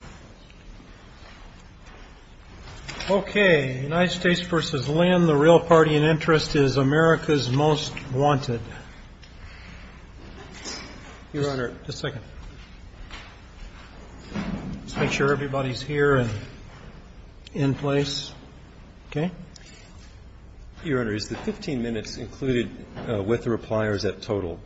The Real Party in Interest is America's Most Wanted Is the 15 minutes included with the reply or is that total?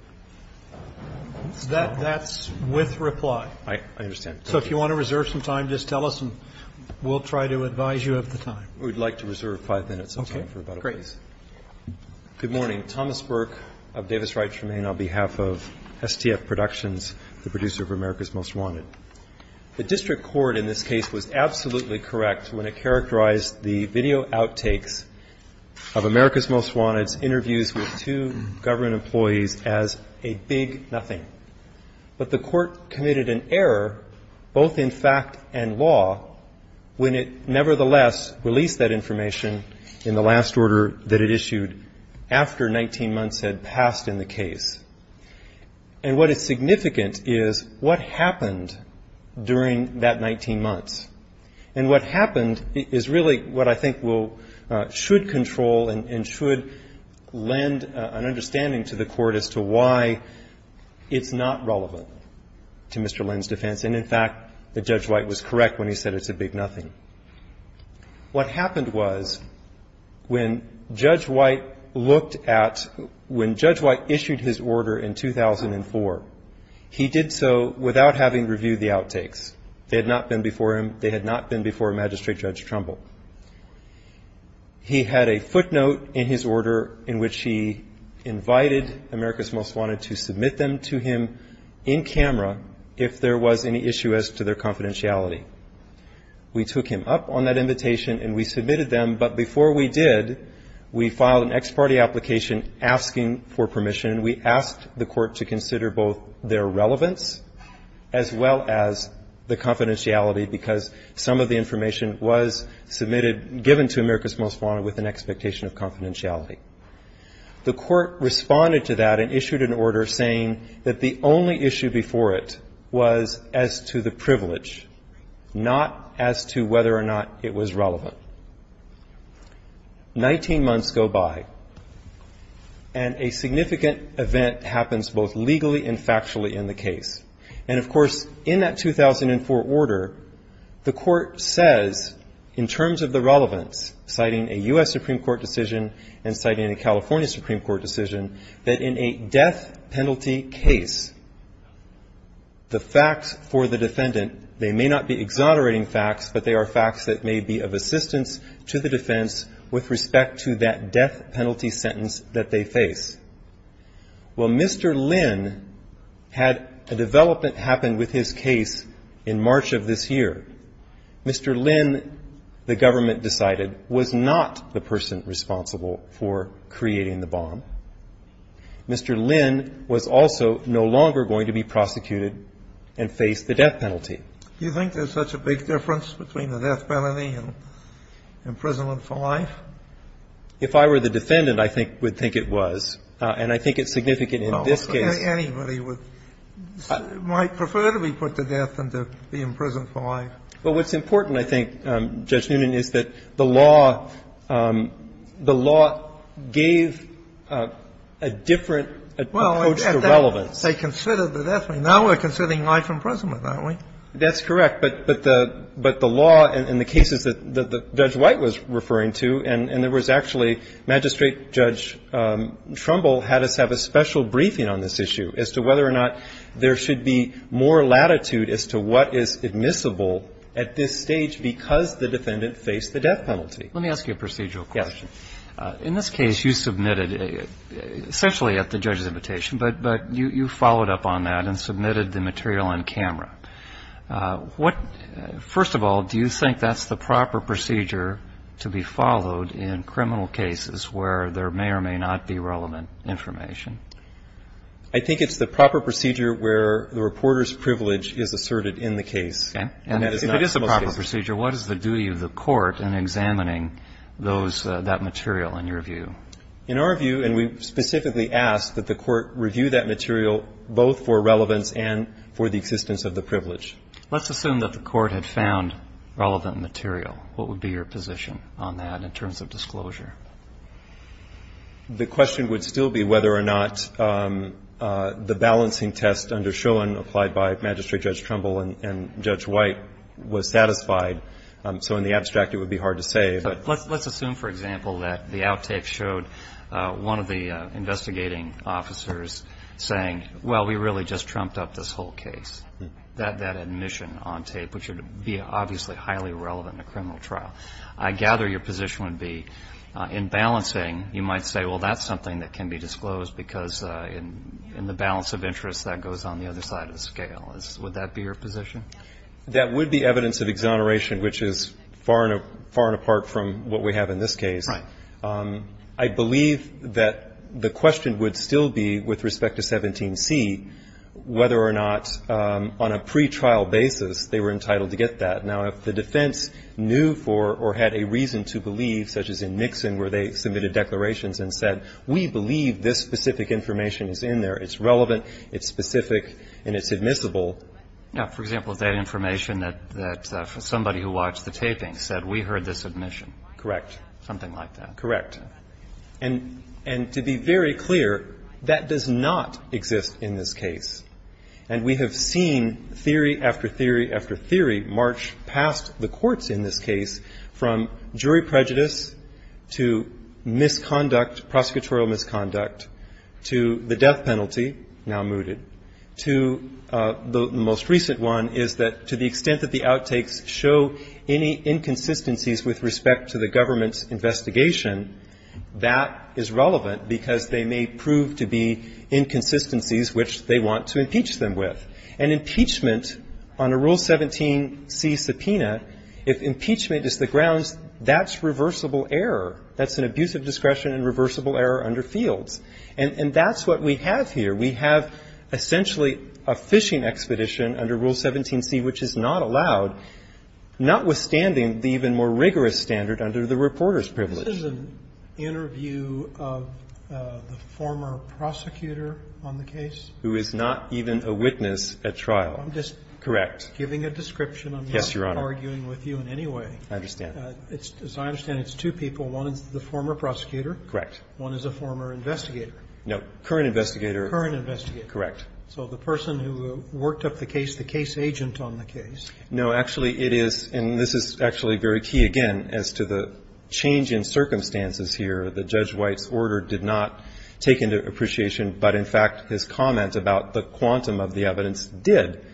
That's with reply. I understand. So if you want to reserve some time, just tell us and we'll try to advise you of the time. We'd like to reserve five minutes of time for rebuttal, please. Okay, great. Good morning. Thomas Burke of Davis Wright Tremaine on behalf of STF Productions, the producer of America's Most Wanted. The district court in this case was absolutely correct when it characterized the video outtakes of America's Most Wanted's interviews with two government employees as a big nothing. But the court committed an error, both in fact and law, when it nevertheless released that information in the last order that it issued after 19 months had passed in the case. And what is significant is what happened during that 19 months. And what happened is really what I think should control and should lend an understanding to the court as to why it's not relevant to Mr. Lin's defense. And, in fact, that Judge White was correct when he said it's a big nothing. What happened was when Judge White looked at when Judge White issued his order in 2004, he did so without having reviewed the outtakes. They had not been before him. They had not been before Magistrate Judge Trumbull. He had a footnote in his order in which he invited America's Most Wanted to submit them to him in camera if there was any issue as to their confidentiality. We took him up on that invitation and we submitted them. But before we did, we filed an ex parte application asking for permission. And we asked the court to consider both their relevance as well as the confidentiality because some of the information was submitted, given to America's Most Wanted with an expectation of confidentiality. The court responded to that and issued an order saying that the only issue before it was as to the privilege, not as to whether or not it was relevant. Nineteen months go by and a significant event happens both legally and factually in the case. And, of course, in that 2004 order, the court says in terms of the relevance, citing a U.S. Supreme Court decision and citing a California Supreme Court decision, that in a death penalty case, the facts for the defendant, they may not be exonerating facts, but they are facts that may be of assistance to the defense with respect to that death penalty sentence that they face. Well, Mr. Lynn had a development happen with his case in March of this year. Mr. Lynn, the government decided, was not the person responsible for creating the bomb. Mr. Lynn was also no longer going to be prosecuted and face the death penalty. Do you think there's such a big difference between the death penalty and imprisonment for life? If I were the defendant, I think we'd think it was. And I think it's significant in this case. Anybody might prefer to be put to death than to be imprisoned for life. But what's important, I think, Judge Noonan, is that the law gave a different approach to relevance. Well, they considered the death penalty. Now we're considering life imprisonment, aren't we? That's correct. But the law in the cases that Judge White was referring to, and there was actually Magistrate Judge Trumbull had us have a special briefing on this issue as to whether or not there should be more latitude as to what is admissible at this stage because the defendant faced the death penalty. Let me ask you a procedural question. Yes. In this case, you submitted essentially at the judge's invitation, but you followed up on that and submitted the material on camera. First of all, do you think that's the proper procedure to be followed in criminal cases where there may or may not be relevant information? I think it's the proper procedure where the reporter's privilege is asserted in the case. Okay. And if it is the proper procedure, what is the duty of the court in examining those, that material, in your view? In our view, and we specifically ask that the court review that material both for relevance and for the existence of the privilege. Let's assume that the court had found relevant material. What would be your position on that in terms of disclosure? The question would still be whether or not the balancing test under Schoen applied by Magistrate Judge Trumbull and Judge White was satisfied. So in the abstract, it would be hard to say. Let's assume, for example, that the out tape showed one of the investigating officers saying, well, we really just trumped up this whole case, that admission on tape, which would be obviously highly relevant in a criminal trial. I gather your position would be in balancing, you might say, well, that's something that can be disclosed because in the balance of interest, that goes on the other side of the scale. Would that be your position? That would be evidence of exoneration, which is far and apart from what we have in this case. Right. I believe that the question would still be with respect to 17C whether or not on a pretrial basis they were entitled to get that. Now, if the defense knew for or had a reason to believe, such as in Nixon where they submitted declarations and said, we believe this specific information is in there, it's relevant, it's specific, and it's admissible. Now, for example, that information that somebody who watched the taping said, we heard this admission. Correct. Something like that. Correct. And to be very clear, that does not exist in this case. And we have seen theory after theory after theory march past the courts in this case from jury prejudice to misconduct, prosecutorial misconduct, to the death penalty, now mooted, to the most recent one is that to the extent that the outtakes show any inconsistencies with respect to the government's investigation, that is relevant because they may prove to be inconsistencies which they want to impeach them with. And impeachment on a Rule 17C subpoena, if impeachment is the grounds, that's reversible error. That's an abuse of discretion and reversible error under Fields. And that's what we have here. We have essentially a fishing expedition under Rule 17C which is not allowed, notwithstanding the even more rigorous standard under the reporter's privilege. This is an interview of the former prosecutor on the case. Who is not even a witness at trial. Correct. I'm just giving a description. Yes, Your Honor. I'm not arguing with you in any way. I understand. As I understand it, it's two people. One is the former prosecutor. Correct. One is a former investigator. No. Current investigator. Current investigator. Correct. So the person who worked up the case, the case agent on the case. No, actually, it is. And this is actually very key, again, as to the change in circumstances here. That Judge White's order did not take into appreciation. But, in fact, his comment about the quantum of the evidence did.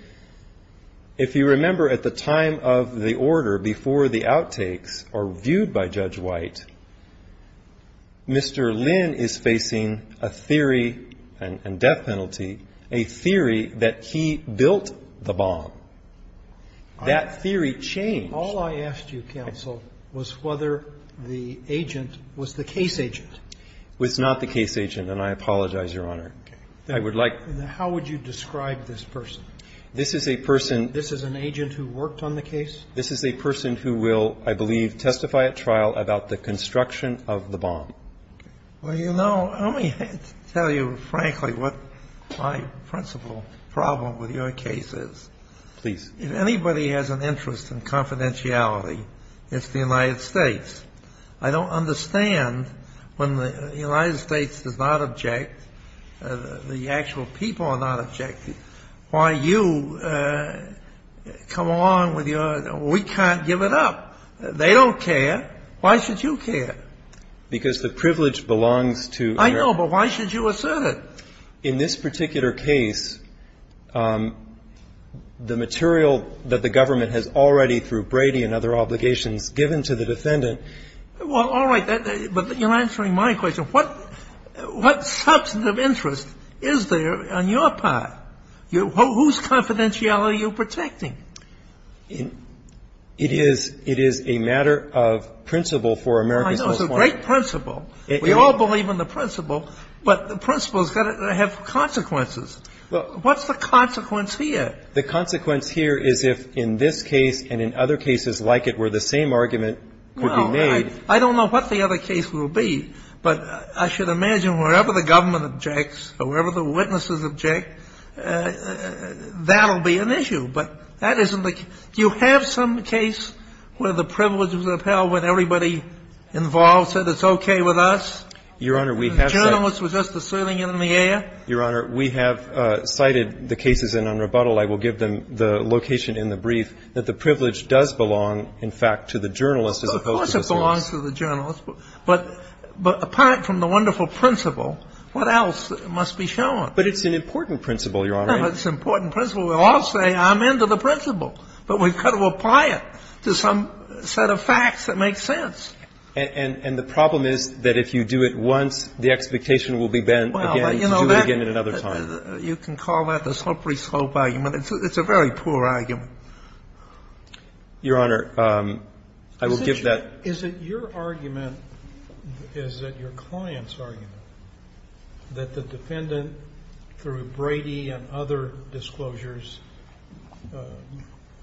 If you remember at the time of the order before the outtakes are viewed by Judge White, Mr. Lynn is facing a theory and death penalty, a theory that he built the bomb. That theory changed. All I asked you, counsel, was whether the agent was the case agent. Was not the case agent. And I apologize, Your Honor. Okay. I would like to. How would you describe this person? This is a person. This is an agent who worked on the case? This is a person who will, I believe, testify at trial about the construction of the bomb. Well, you know, let me tell you frankly what my principal problem with your case is. Please. If anybody has an interest in confidentiality, it's the United States. I don't understand when the United States does not object, the actual people are not objecting, why you come along with your, we can't give it up. They don't care. Why should you care? Because the privilege belongs to America. I know, but why should you assert it? In this particular case, the material that the government has already through Brady and other obligations given to the defendant. Well, all right. But you're answering my question. What substantive interest is there on your part? Whose confidentiality are you protecting? It is a matter of principle for America's most wanted. I know, it's a great principle. We all believe in the principle, but the principle has got to have consequences. What's the consequence here? The consequence here is if in this case and in other cases like it were the same argument could be made. No, I don't know what the other case will be, but I should imagine wherever the government objects or wherever the witnesses object, that will be an issue. But that isn't the case. Do you have some case where the privilege was upheld when everybody involved said it's okay with us? Your Honor, we have. The journalist was just asserting it in the air. Your Honor, we have cited the cases, and on rebuttal I will give them the location in the brief, that the privilege does belong, in fact, to the journalist as opposed to the serious. Of course it belongs to the journalist. But apart from the wonderful principle, what else must be shown? But it's an important principle, Your Honor. It's an important principle. We all say I'm into the principle, but we've got to apply it to some set of facts that makes sense. And the problem is that if you do it once, the expectation will be bent again to do it again at another time. You can call that the slippery slope argument. It's a very poor argument. Your Honor, I will give that. Is it your argument, is it your client's argument, that the defendant, through Brady and other disclosures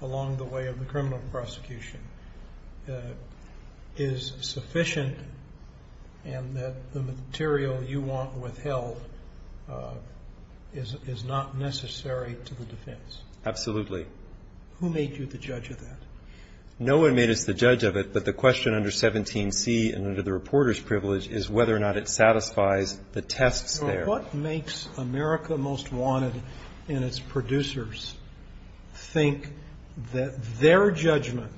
along the way of the criminal prosecution, is sufficient and that the material you want withheld is not necessary to the defense? Absolutely. Who made you the judge of that? No one made us the judge of it, but the question under 17C and under the reporter's privilege is whether or not it satisfies the tests there. What makes America Most Wanted and its producers think that their judgment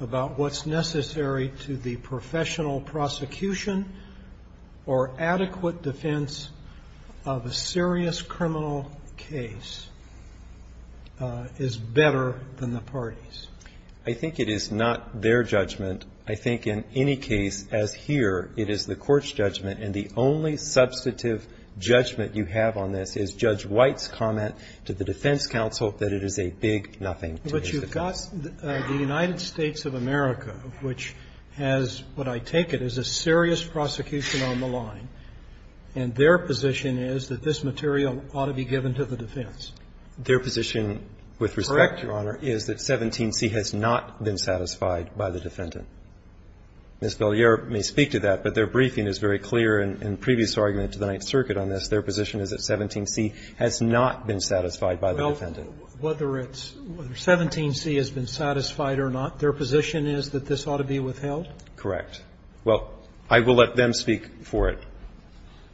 about what's necessary to the professional prosecution or adequate defense of a serious criminal case is better than the parties? I think it is not their judgment. I think in any case, as here, it is the court's judgment, and the only substantive judgment you have on this is Judge White's comment to the defense counsel But you've got the United States of America, which has what I take it is a serious prosecution on the line, and their position is that this material ought to be given to the defense. Their position, with respect, Your Honor, is that 17C has not been satisfied by the defendant. Ms. Bellier may speak to that, but their briefing is very clear in the previous argument to the Ninth Circuit on this. Their position is that 17C has not been satisfied by the defendant. Whether it's 17C has been satisfied or not, their position is that this ought to be withheld? Correct. Well, I will let them speak for it.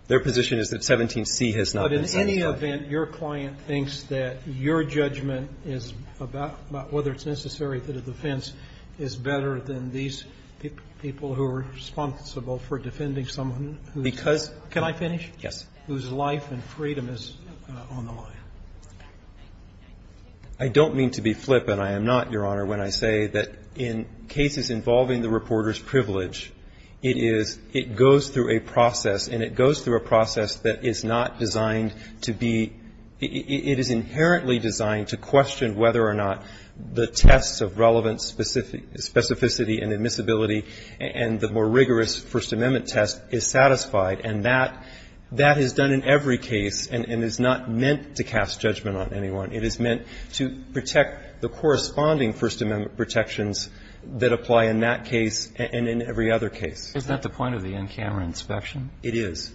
Their position is that 17C has not been satisfied. But in any event, your client thinks that your judgment is about whether it's necessary for the defense is better than these people who are responsible for defending someone who's Can I finish? Yes. whose life and freedom is on the line. I don't mean to be flippant. I am not, Your Honor, when I say that in cases involving the reporter's privilege, it is, it goes through a process, and it goes through a process that is not designed to be, it is inherently designed to question whether or not the test of relevant specificity and admissibility and the more rigorous First Amendment test is satisfied. And that, that is done in every case and is not meant to cast judgment on anyone. It is meant to protect the corresponding First Amendment protections that apply in that case and in every other case. Isn't that the point of the in-camera inspection? It is.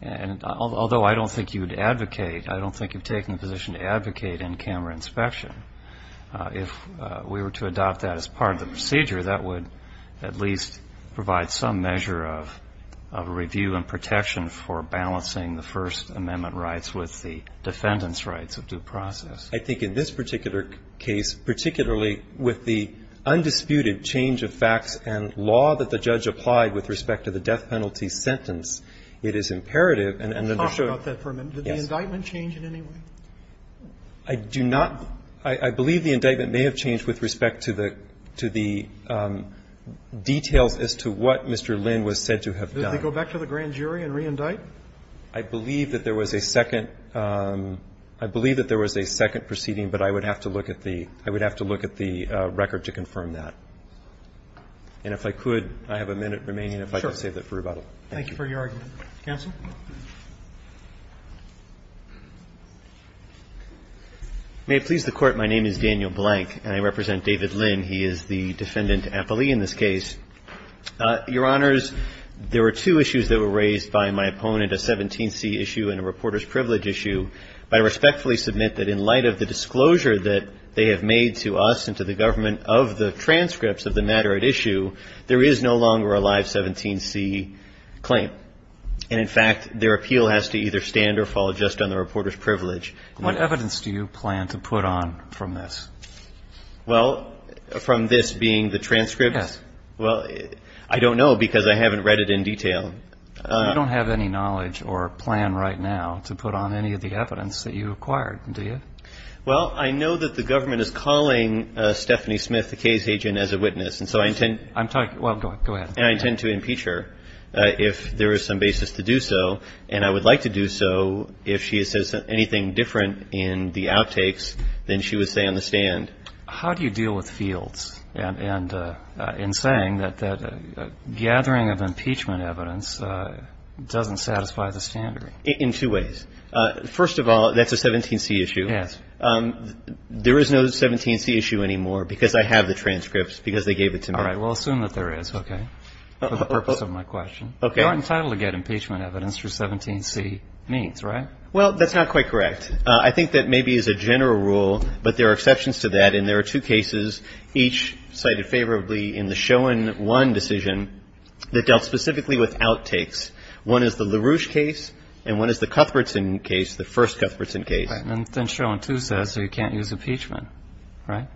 And although I don't think you would advocate, I don't think you've taken the position to advocate in-camera inspection. If we were to adopt that as part of the procedure, that would at least provide some measure of review and protection for balancing the First Amendment rights with the defendant's rights of due process. I think in this particular case, particularly with the undisputed change of facts and law that the judge applied with respect to the death penalty sentence, it is imperative and understood. Talk about that for a minute. Did the indictment change in any way? I do not. I believe the indictment may have changed with respect to the, to the details as to what Mr. Lin was said to have done. Did they go back to the grand jury and reindict? I believe that there was a second, I believe that there was a second proceeding, but I would have to look at the, I would have to look at the record to confirm that. And if I could, I have a minute remaining if I could save that for rebuttal. Thank you for your argument. Counsel? May it please the Court. My name is Daniel Blank and I represent David Lin. He is the defendant appellee in this case. Your Honors, there were two issues that were raised by my opponent, a 17C issue and a reporter's privilege issue. I respectfully submit that in light of the disclosure that they have made to us and to the government of the transcripts of the matter at issue, there is no longer a live 17C claim. And in fact, their appeal has to either stand or fall just on the reporter's privilege. What evidence do you plan to put on from this? Well, from this being the transcripts? Yes. Well, I don't know because I haven't read it in detail. You don't have any knowledge or plan right now to put on any of the evidence that you acquired, do you? Well, I know that the government is calling Stephanie Smith, the case agent, as a witness. And so I intend. I'm talking, well, go ahead. And I intend to impeach her if there is some basis to do so. And I would like to do so if she says anything different in the outtakes than she would say on the stand. How do you deal with fields in saying that gathering of impeachment evidence doesn't satisfy the standard? In two ways. First of all, that's a 17C issue. Yes. There is no 17C issue anymore because I have the transcripts because they gave it to me. All right. Well, assume that there is. Okay. For the purpose of my question. Okay. You're entitled to get impeachment evidence for 17C means, right? Well, that's not quite correct. I think that maybe as a general rule, but there are exceptions to that, and there are two cases, each cited favorably in the Schoen 1 decision that dealt specifically with outtakes. One is the LaRouche case, and one is the Cuthbertson case, the first Cuthbertson case. And Schoen 2 says you can't use impeachment, right?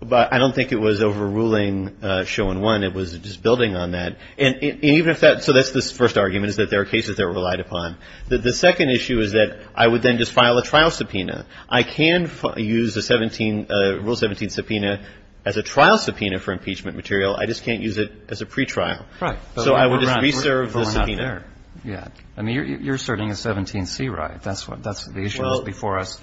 But I don't think it was overruling Schoen 1. It was just building on that. And even if that so that's the first argument is that there are cases that are relied upon. The second issue is that I would then just file a trial subpoena. I can use a rule 17 subpoena as a trial subpoena for impeachment material. I just can't use it as a pretrial. Right. So I would just reserve the subpoena. Yeah. I mean, you're asserting a 17C right. That's what the issue is before us.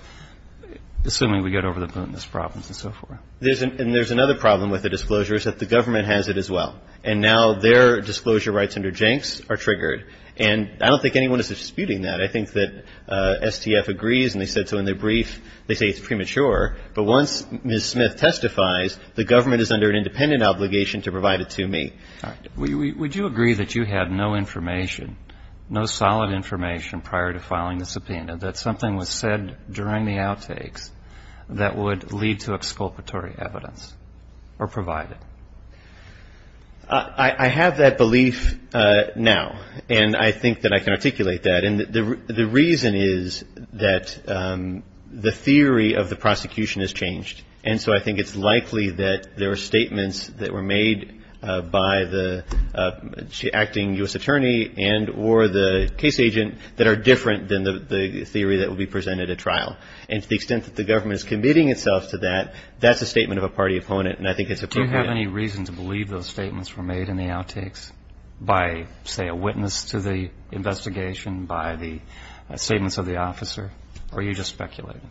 Assuming we get over the Putinist problems and so forth. And there's another problem with the disclosure is that the government has it as well. And now their disclosure rights under Jenks are triggered. And I don't think anyone is disputing that. I think that STF agrees, and they said so in their brief. They say it's premature. But once Ms. Smith testifies, the government is under an independent obligation to provide it to me. Would you agree that you had no information, no solid information prior to filing the subpoena, that something was said during the outtakes that would lead to exculpatory evidence or provide it? I have that belief now. And I think that I can articulate that. And the reason is that the theory of the prosecution has changed. And so I think it's likely that there are statements that were made by the acting U.S. attorney and or the case agent that are different than the theory that will be presented at trial. And to the extent that the government is committing itself to that, that's a statement of a party opponent. And I think it's appropriate. Do you have any reason to believe those statements were made in the outtakes by, say, a witness to the investigation, by the statements of the officer? Or are you just speculating?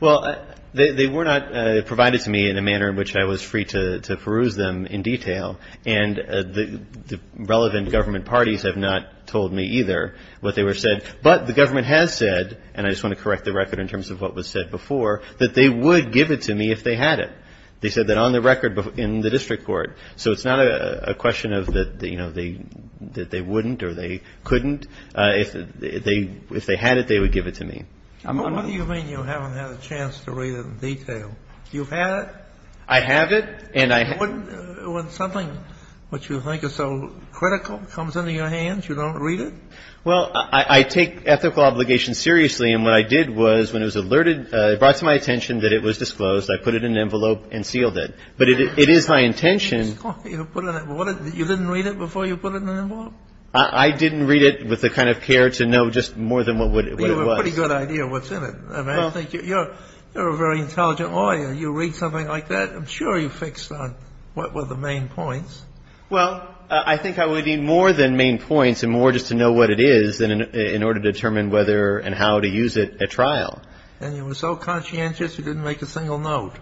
Well, they were not provided to me in a manner in which I was free to peruse them in detail. And the relevant government parties have not told me either what they were said. But the government has said, and I just want to correct the record in terms of what was said before, that they would give it to me if they had it. They said that on the record in the district court. So it's not a question of, you know, that they wouldn't or they couldn't. If they had it, they would give it to me. What do you mean you haven't had a chance to read it in detail? You've had it? I have it. When something which you think is so critical comes into your hands, you don't read it? Well, I take ethical obligations seriously. And what I did was when it was alerted, it brought to my attention that it was disclosed. I put it in an envelope and sealed it. But it is my intention. You didn't read it before you put it in an envelope? I didn't read it with the kind of care to know just more than what it was. You have a pretty good idea of what's in it. I mean, I think you're a very intelligent lawyer. You read something like that. I'm sure you fixed on what were the main points. Well, I think I would need more than main points and more just to know what it is in order to determine whether and how to use it at trial. And you were so conscientious you didn't make a single note.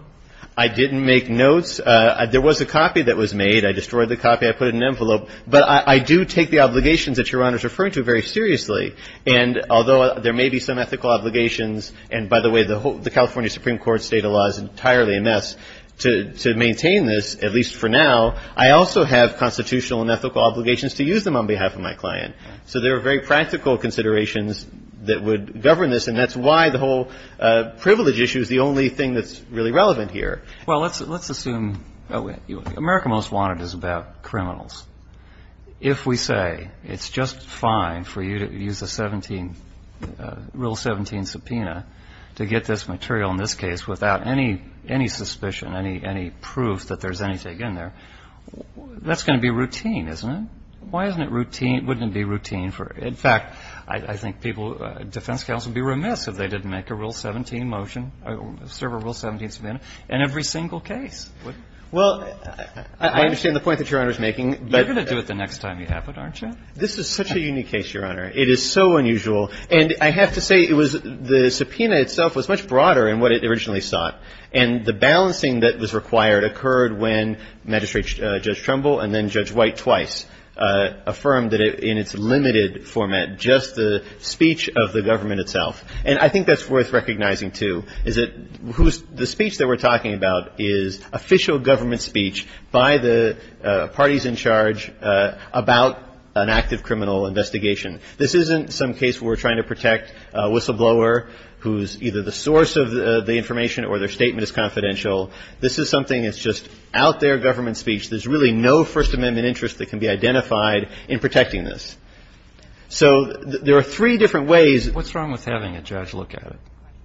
I didn't make notes. There was a copy that was made. I destroyed the copy. I put it in an envelope. But I do take the obligations that Your Honor is referring to very seriously. And although there may be some ethical obligations, and by the way, the California Supreme Court State of Law is entirely a mess, to maintain this, at least for now, I also have constitutional and ethical obligations to use them on behalf of my client. So there are very practical considerations that would govern this, and that's why the whole privilege issue is the only thing that's really relevant here. Well, let's assume America Most Wanted is about criminals. If we say it's just fine for you to use the Rule 17 subpoena to get this material in this case without any suspicion, any proof that there's anything in there, that's going to be routine, isn't it? Why wouldn't it be routine? In fact, I think defense counsel would be remiss if they didn't make a Rule 17 motion, serve a Rule 17 subpoena in every single case. Well, I understand the point that Your Honor is making. You're going to do it the next time you have it, aren't you? This is such a unique case, Your Honor. It is so unusual. And I have to say it was the subpoena itself was much broader in what it originally sought. And the balancing that was required occurred when Magistrate Judge Trumbull and then Judge White twice affirmed that in its limited format, just the speech of the government itself. And I think that's worth recognizing, too, is that the speech that we're talking about is official government speech by the parties in charge about an active criminal investigation. This isn't some case where we're trying to protect a whistleblower who's either the source of the information or their statement is confidential. This is something that's just out there government speech. There's really no First Amendment interest that can be identified in protecting this. So there are three different ways. What's wrong with having a judge look at it?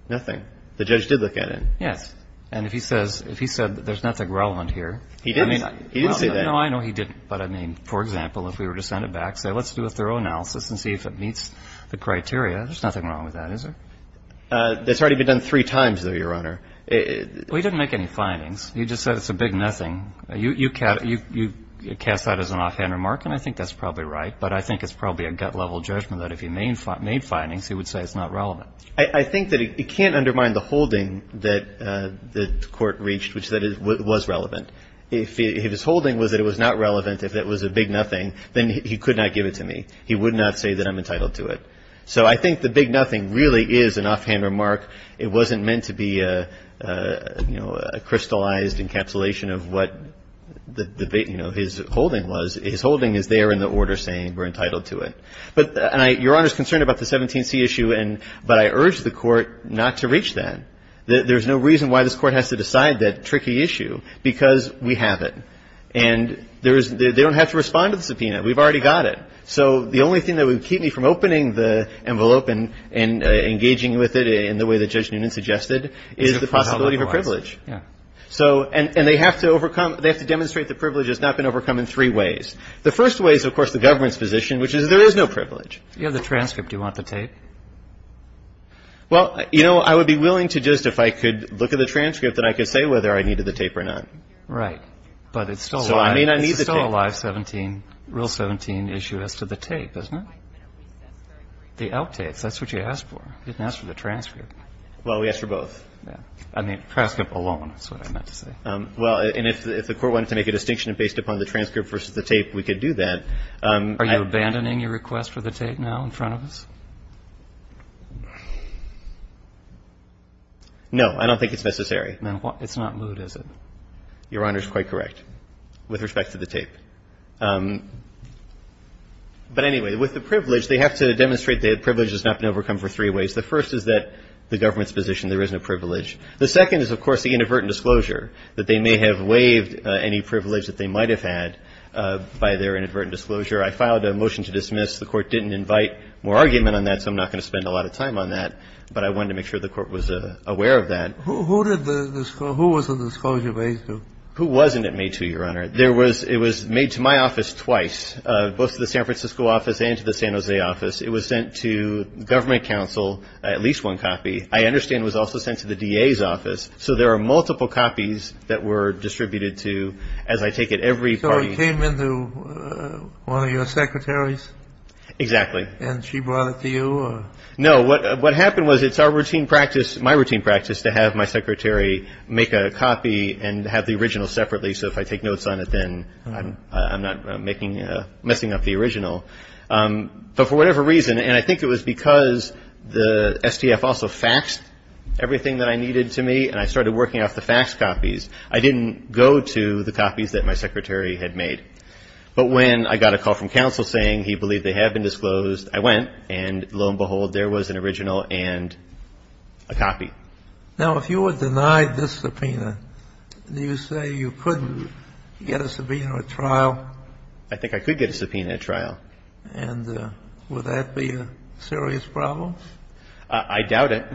Nothing. The judge did look at it. Yes. And if he says there's nothing relevant here. He didn't. He didn't say that. No, I know he didn't. But, I mean, for example, if we were to send it back, say let's do a thorough analysis and see if it meets the criteria, there's nothing wrong with that, is there? That's already been done three times, though, Your Honor. Well, he didn't make any findings. He just said it's a big nothing. You cast that as an offhand remark, and I think that's probably right. But I think it's probably a gut-level judgment that if he made findings, he would say it's not relevant. I think that it can't undermine the holding that the Court reached, which that it was relevant. If his holding was that it was not relevant, if it was a big nothing, then he could not give it to me. He would not say that I'm entitled to it. So I think the big nothing really is an offhand remark. It wasn't meant to be a, you know, a crystallized encapsulation of what the, you know, his holding was. His holding is there in the order saying we're entitled to it. But your Honor's concerned about the 17C issue, but I urge the Court not to reach that. There's no reason why this Court has to decide that tricky issue, because we have it. And there is they don't have to respond to the subpoena. We've already got it. So the only thing that would keep me from opening the envelope and engaging with it in the way that Judge Noonan suggested is the possibility of a privilege. And they have to overcome they have to demonstrate the privilege has not been overcome in three ways. The first way is, of course, the government's position, which is there is no privilege. Do you have the transcript? Do you want the tape? Well, you know, I would be willing to just, if I could look at the transcript, then I could say whether I needed the tape or not. Right. But it's still alive. So I may not need the tape. It's still alive, 17, Rule 17 issue as to the tape, isn't it? The outtakes. That's what you asked for. You didn't ask for the transcript. Well, we asked for both. Yeah. I mean, transcript alone is what I meant to say. Well, and if the Court wanted to make a distinction based upon the transcript versus the tape, we could do that. Are you abandoning your request for the tape now in front of us? No. I don't think it's necessary. It's not moot, is it? Your Honor is quite correct with respect to the tape. But anyway, with the privilege, they have to demonstrate the privilege has not been overcome for three ways. The first is that the government's position, there isn't a privilege. The second is, of course, the inadvertent disclosure. That they may have waived any privilege that they might have had by their inadvertent disclosure. I filed a motion to dismiss. The Court didn't invite more argument on that, so I'm not going to spend a lot of time on that. But I wanted to make sure the Court was aware of that. Who was the disclosure made to? Who wasn't it made to, Your Honor? It was made to my office twice, both to the San Francisco office and to the San Jose office. It was sent to government counsel, at least one copy. I understand it was also sent to the DA's office. So there are multiple copies that were distributed to, as I take it, every party. So it came into one of your secretaries? Exactly. And she brought it to you? No. What happened was, it's our routine practice, my routine practice, to have my secretary make a copy and have the original separately. So if I take notes on it, then I'm not making, messing up the original. But for whatever reason, and I think it was because the STF also faxed everything that I needed to me, and I started working off the fax copies, I didn't go to the copies that my secretary had made. But when I got a call from counsel saying he believed they had been disclosed, I went, and lo and behold, there was an original and a copy. Now, if you were denied this subpoena, do you say you couldn't get a subpoena at trial? I think I could get a subpoena at trial. And would that be a serious problem? I doubt it.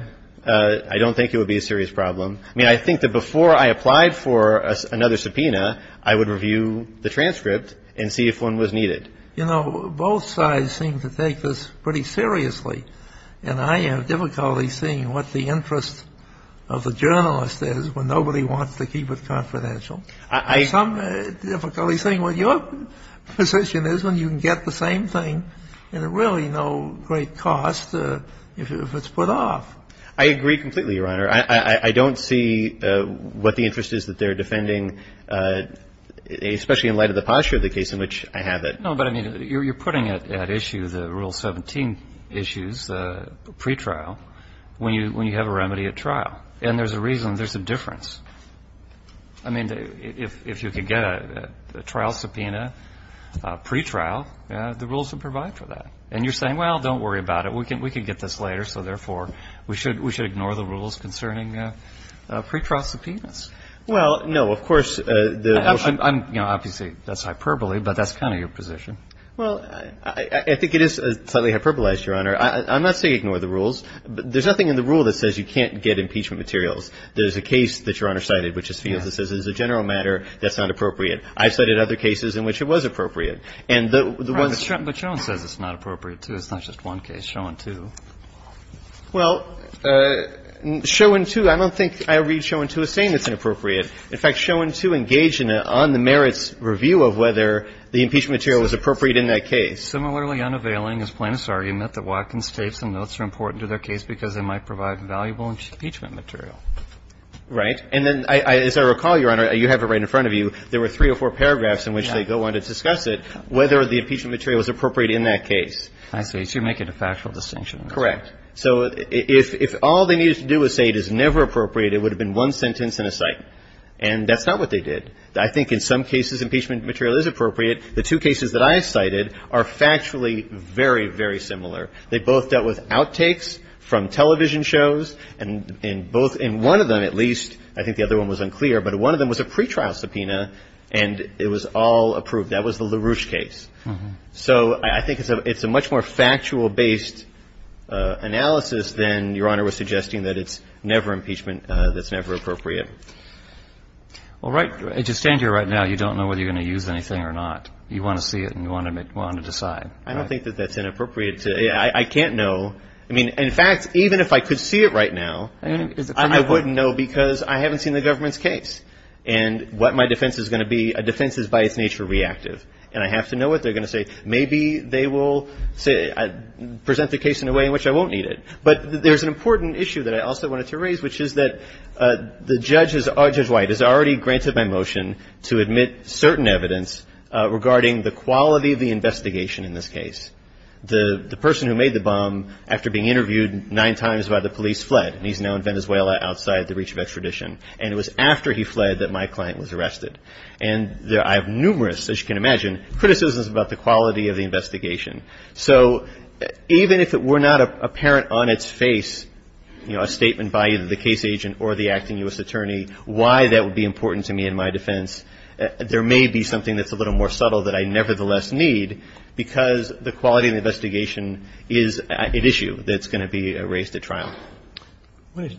I don't think it would be a serious problem. I mean, I think that before I applied for another subpoena, I would review the transcript and see if one was needed. You know, both sides seem to take this pretty seriously. And I have difficulty seeing what the interest of the journalist is when nobody wants to keep it confidential. I have some difficulty seeing what your position is when you can get the same thing at really no great cost if it's put off. I agree completely, Your Honor. I don't see what the interest is that they're defending, especially in light of the posture of the case in which I have it. No, but I mean, you're putting at issue the Rule 17 issues, the pretrial, when you have a remedy at trial. And there's a reason. There's a difference. I mean, if you could get a trial subpoena pretrial, the rules would provide for that. And you're saying, well, don't worry about it. We can get this later. So, therefore, we should ignore the rules concerning pretrial subpoenas? Well, no. Of course, the motion — Obviously, that's hyperbole, but that's kind of your position. Well, I think it is slightly hyperbolized, Your Honor. I'm not saying ignore the rules. There's nothing in the rule that says you can't get impeachment materials. There's a case that Your Honor cited, which is Fields, that says it's a general matter that's not appropriate. I've cited other cases in which it was appropriate. And the ones — Right. But Schoen says it's not appropriate, too. It's not just one case. It's Schoen, too. Well, Schoen, too, I don't think I read Schoen, too, as saying it's inappropriate. In fact, Schoen, too, engaged in an on-the-merits review of whether the impeachment material was appropriate in that case. Similarly, unavailing is Plaintiff's argument that Watkins states the notes are important to their case because they might provide valuable impeachment material. Right. And then, as I recall, Your Honor, you have it right in front of you, there were three or four paragraphs in which they go on to discuss it, whether the impeachment material was appropriate in that case. I see. So you make it a factual distinction. Correct. So if all they needed to do was say it is never appropriate, it would have been one sentence and a cite. And that's not what they did. I think in some cases impeachment material is appropriate. The two cases that I cited are factually very, very similar. They both dealt with outtakes from television shows. And both — and one of them, at least, I think the other one was unclear, but one of them was a pretrial subpoena, and it was all approved. That was the LaRouche case. So I think it's a much more factual-based analysis than Your Honor was suggesting that it's never impeachment that's never appropriate. All right. And to stand here right now, you don't know whether you're going to use anything or not. You want to see it and you want to decide. I don't think that that's inappropriate. I can't know. I mean, in fact, even if I could see it right now, I wouldn't know because I haven't seen the government's case. And what my defense is going to be, a defense is by its nature reactive. And I have to know what they're going to say. Maybe they will say — present the case in a way in which I won't need it. But there's an important issue that I also wanted to raise, which is that the judge is — Judge White has already granted my motion to admit certain evidence regarding the quality of the investigation in this case. The person who made the bomb, after being interviewed nine times by the police, fled, and he's now in Venezuela outside the reach of extradition. And it was after he fled that my client was arrested. And I have numerous, as you can imagine, criticisms about the quality of the investigation. So even if it were not apparent on its face, you know, a statement by either the case agent or the acting U.S. attorney, why that would be important to me in my defense, there may be something that's a little more subtle that I nevertheless need because the quality of the investigation is an issue that's going to be raised at trial.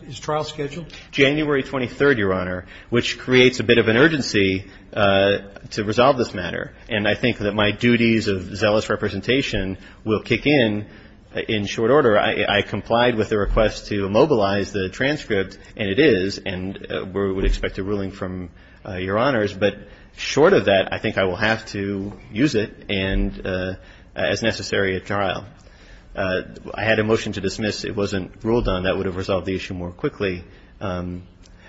Is trial scheduled? January 23rd, Your Honor, which creates a bit of an urgency to resolve this matter. And I think that my duties of zealous representation will kick in in short order. I complied with the request to immobilize the transcript, and it is, and we would expect a ruling from Your Honors. But short of that, I think I will have to use it as necessary at trial. I had a motion to dismiss. It wasn't ruled on. That would have resolved the issue more quickly.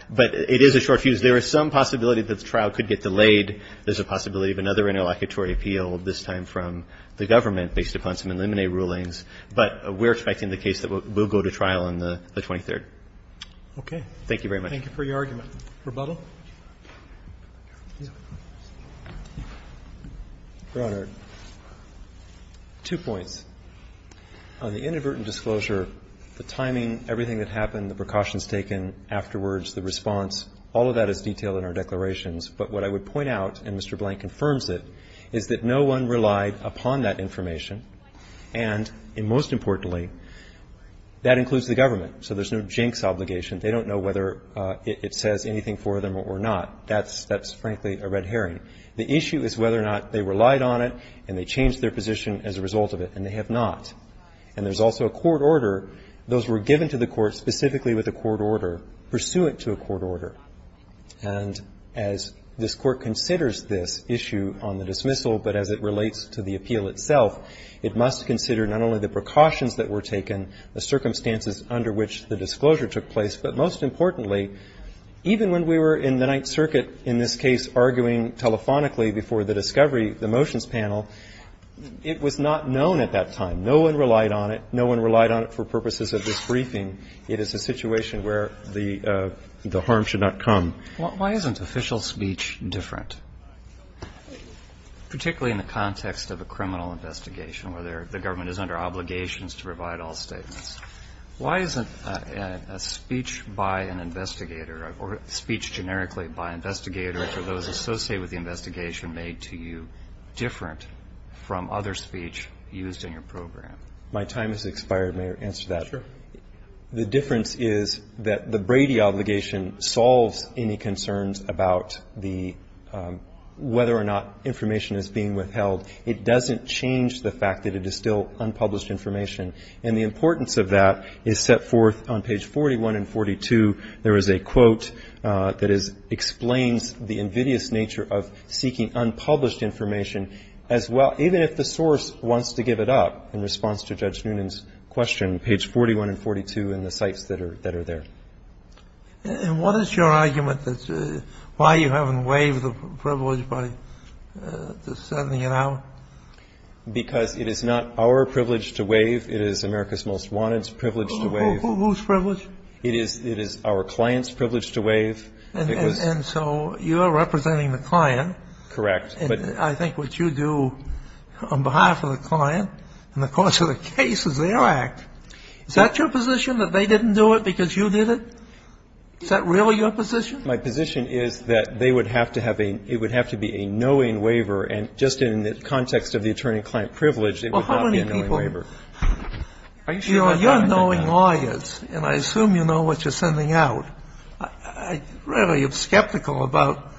But it is a short fuse. There is some possibility that the trial could get delayed. There's a possibility of another interlocutory appeal, this time from the government, based upon some eliminate rulings. But we're expecting the case that will go to trial on the 23rd. Thank you very much. Thank you for your argument. Rebuttal? Your Honor, two points. On the inadvertent disclosure, the timing, everything that happened, the precautions taken afterwards, the response, all of that is detailed in our declarations. But what I would point out, and Mr. Blank confirms it, is that no one relied upon that information. And most importantly, that includes the government. So there's no jinx obligation. They don't know whether it says anything for them or not. That's frankly a red herring. The issue is whether or not they relied on it and they changed their position as a result of it. And they have not. And there's also a court order. Those were given to the court specifically with a court order, pursuant to a court order. And as this Court considers this issue on the dismissal, but as it relates to the appeal itself, it must consider not only the precautions that were taken, the circumstances under which the disclosure took place, but most importantly, even when we were in the Ninth Circuit in this case arguing telephonically before the discovery, the motions panel, it was not known at that time. No one relied on it. No one relied on it for purposes of this briefing. It is a situation where the harm should not come. Why isn't official speech different, particularly in the context of a criminal investigation where the government is under obligations to provide all statements? Why isn't a speech by an investigator or a speech generically by investigators or those associated with the investigation made to you different from other speech used in your program? My time has expired. May I answer that? Sure. The difference is that the Brady obligation solves any concerns about the whether or not information is being withheld. It doesn't change the fact that it is still unpublished information. And the importance of that is set forth on page 41 and 42. There is a quote that explains the invidious nature of seeking unpublished information as well, even if the source wants to give it up in response to Judge Noonan's question, page 41 and 42 and the sites that are there. And what is your argument as to why you haven't waived the privilege by sending it out? Because it is not our privilege to waive. It is America's most wanted's privilege to waive. Whose privilege? It is our client's privilege to waive. And so you are representing the client. Correct. But I think what you do on behalf of the client and the cause of the case is their act. Is that your position, that they didn't do it because you did it? Is that really your position? My position is that they would have to have a ñ it would have to be a knowing waiver. And just in the context of the attorney-client privilege, it would not be a knowing waiver. Are you sure about that? You are knowing lawyers, and I assume you know what you're sending out. I really am skeptical about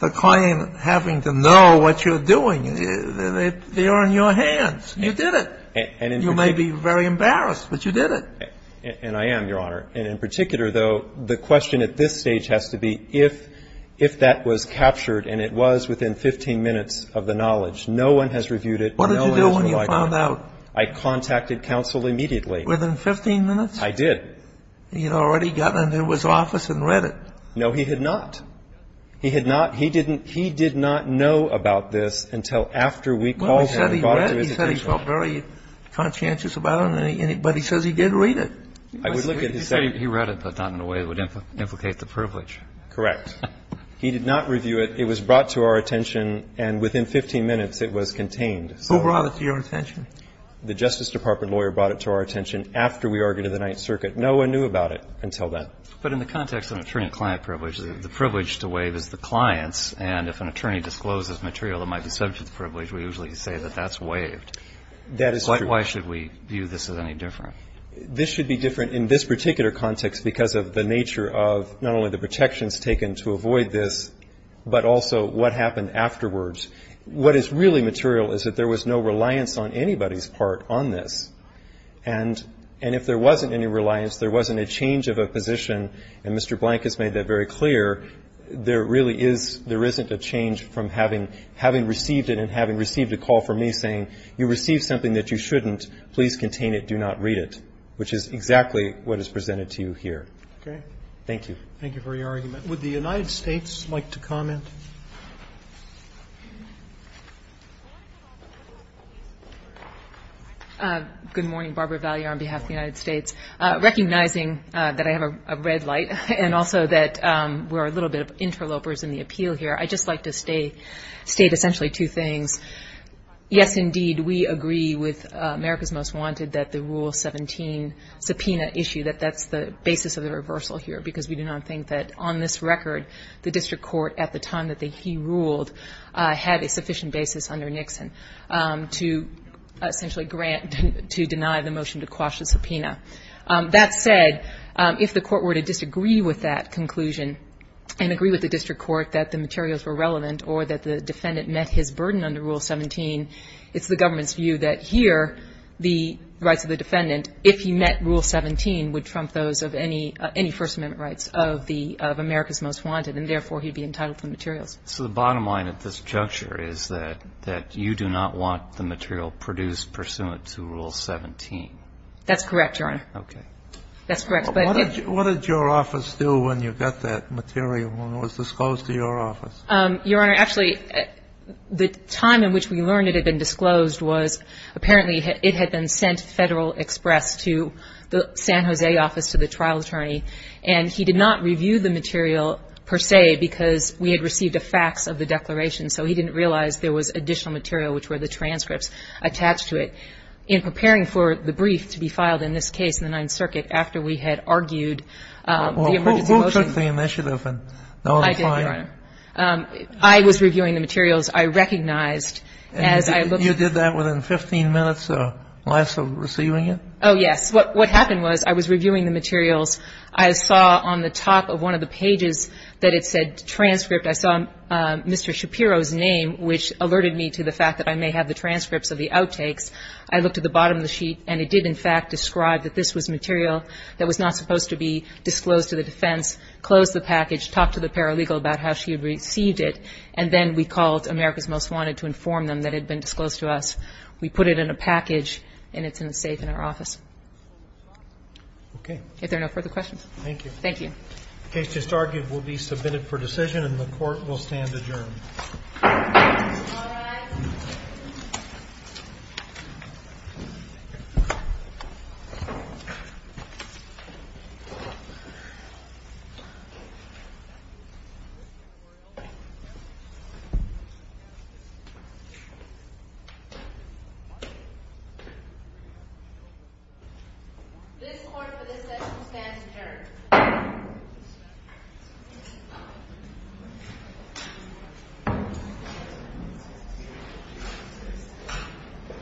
the client having to know what you're doing. They are in your hands. You did it. You may be very embarrassed, but you did it. And I am, Your Honor. And in particular, though, the question at this stage has to be if that was captured and it was within 15 minutes of the knowledge. No one has reviewed it. What did you do when you found out? I contacted counsel immediately. Within 15 minutes? I did. He had already gotten into his office and read it. No, he had not. He had not. He didn't ñ he did not know about this until after we called him and brought it to his attention. Well, he said he read it. He said he felt very conscientious about it. But he says he did read it. He said he read it, but not in a way that would implicate the privilege. Correct. It was brought to our attention, and within 15 minutes it was contained. Who brought it to your attention? The Justice Department lawyer brought it to our attention after we argued in the Ninth Circuit. No one knew about it until then. But in the context of an attorney-client privilege, the privilege to waive is the client's, and if an attorney discloses material that might be subject to the privilege, we usually say that that's waived. That is true. Why should we view this as any different? This should be different in this particular context because of the nature of not only the protections taken to avoid this, but also what happened afterwards. What is really material is that there was no reliance on anybody's part on this. And if there wasn't any reliance, there wasn't a change of a position, and Mr. Blank has made that very clear. There really is no change from having received it and having received a call from me saying, you received something that you shouldn't. Please contain it. Do not read it, which is exactly what is presented to you here. Okay. Thank you. Thank you for your argument. Would the United States like to comment? Good morning. Barbara Vallier on behalf of the United States. Recognizing that I have a red light and also that we're a little bit of interlopers in the appeal here, I'd just like to state essentially two things. Yes, indeed, we agree with America's Most Wanted that the Rule 17 subpoena issue, that that's the basis of the reversal here because we do not think that on this ground that he ruled had a sufficient basis under Nixon to essentially grant to deny the motion to quash the subpoena. That said, if the Court were to disagree with that conclusion and agree with the district court that the materials were relevant or that the defendant met his burden under Rule 17, it's the government's view that here the rights of the defendant, if he met Rule 17, would trump those of any First Amendment rights of America's Most Wanted, and therefore he'd be entitled to the materials. So the bottom line at this juncture is that you do not want the material produced pursuant to Rule 17. That's correct, Your Honor. Okay. That's correct. What did your office do when you got that material when it was disclosed to your office? Your Honor, actually, the time in which we learned it had been disclosed was apparently it had been sent Federal Express to the San Jose office to the trial attorney, and he did not review the material per se because we had received the facts of the declaration. So he didn't realize there was additional material, which were the transcripts attached to it. In preparing for the brief to be filed in this case in the Ninth Circuit after we had argued the emergency motion. Well, who took the initiative? I did, Your Honor. I was reviewing the materials. I recognized as I looked at it. And you did that within 15 minutes or less of receiving it? Oh, yes. What happened was I was reviewing the materials. I saw on the top of one of the pages that it said transcript. I saw Mr. Shapiro's name, which alerted me to the fact that I may have the transcripts of the outtakes. I looked at the bottom of the sheet, and it did in fact describe that this was material that was not supposed to be disclosed to the defense, close the package, talk to the paralegal about how she had received it, and then we called America's Most Wanted to inform them that it had been disclosed to us. We put it in a package, and it's in a safe in our office. Okay. If there are no further questions. Thank you. Thank you. The case just argued will be submitted for decision, and the court will stand adjourned. All rise. This court for this session stands adjourned. Thank you.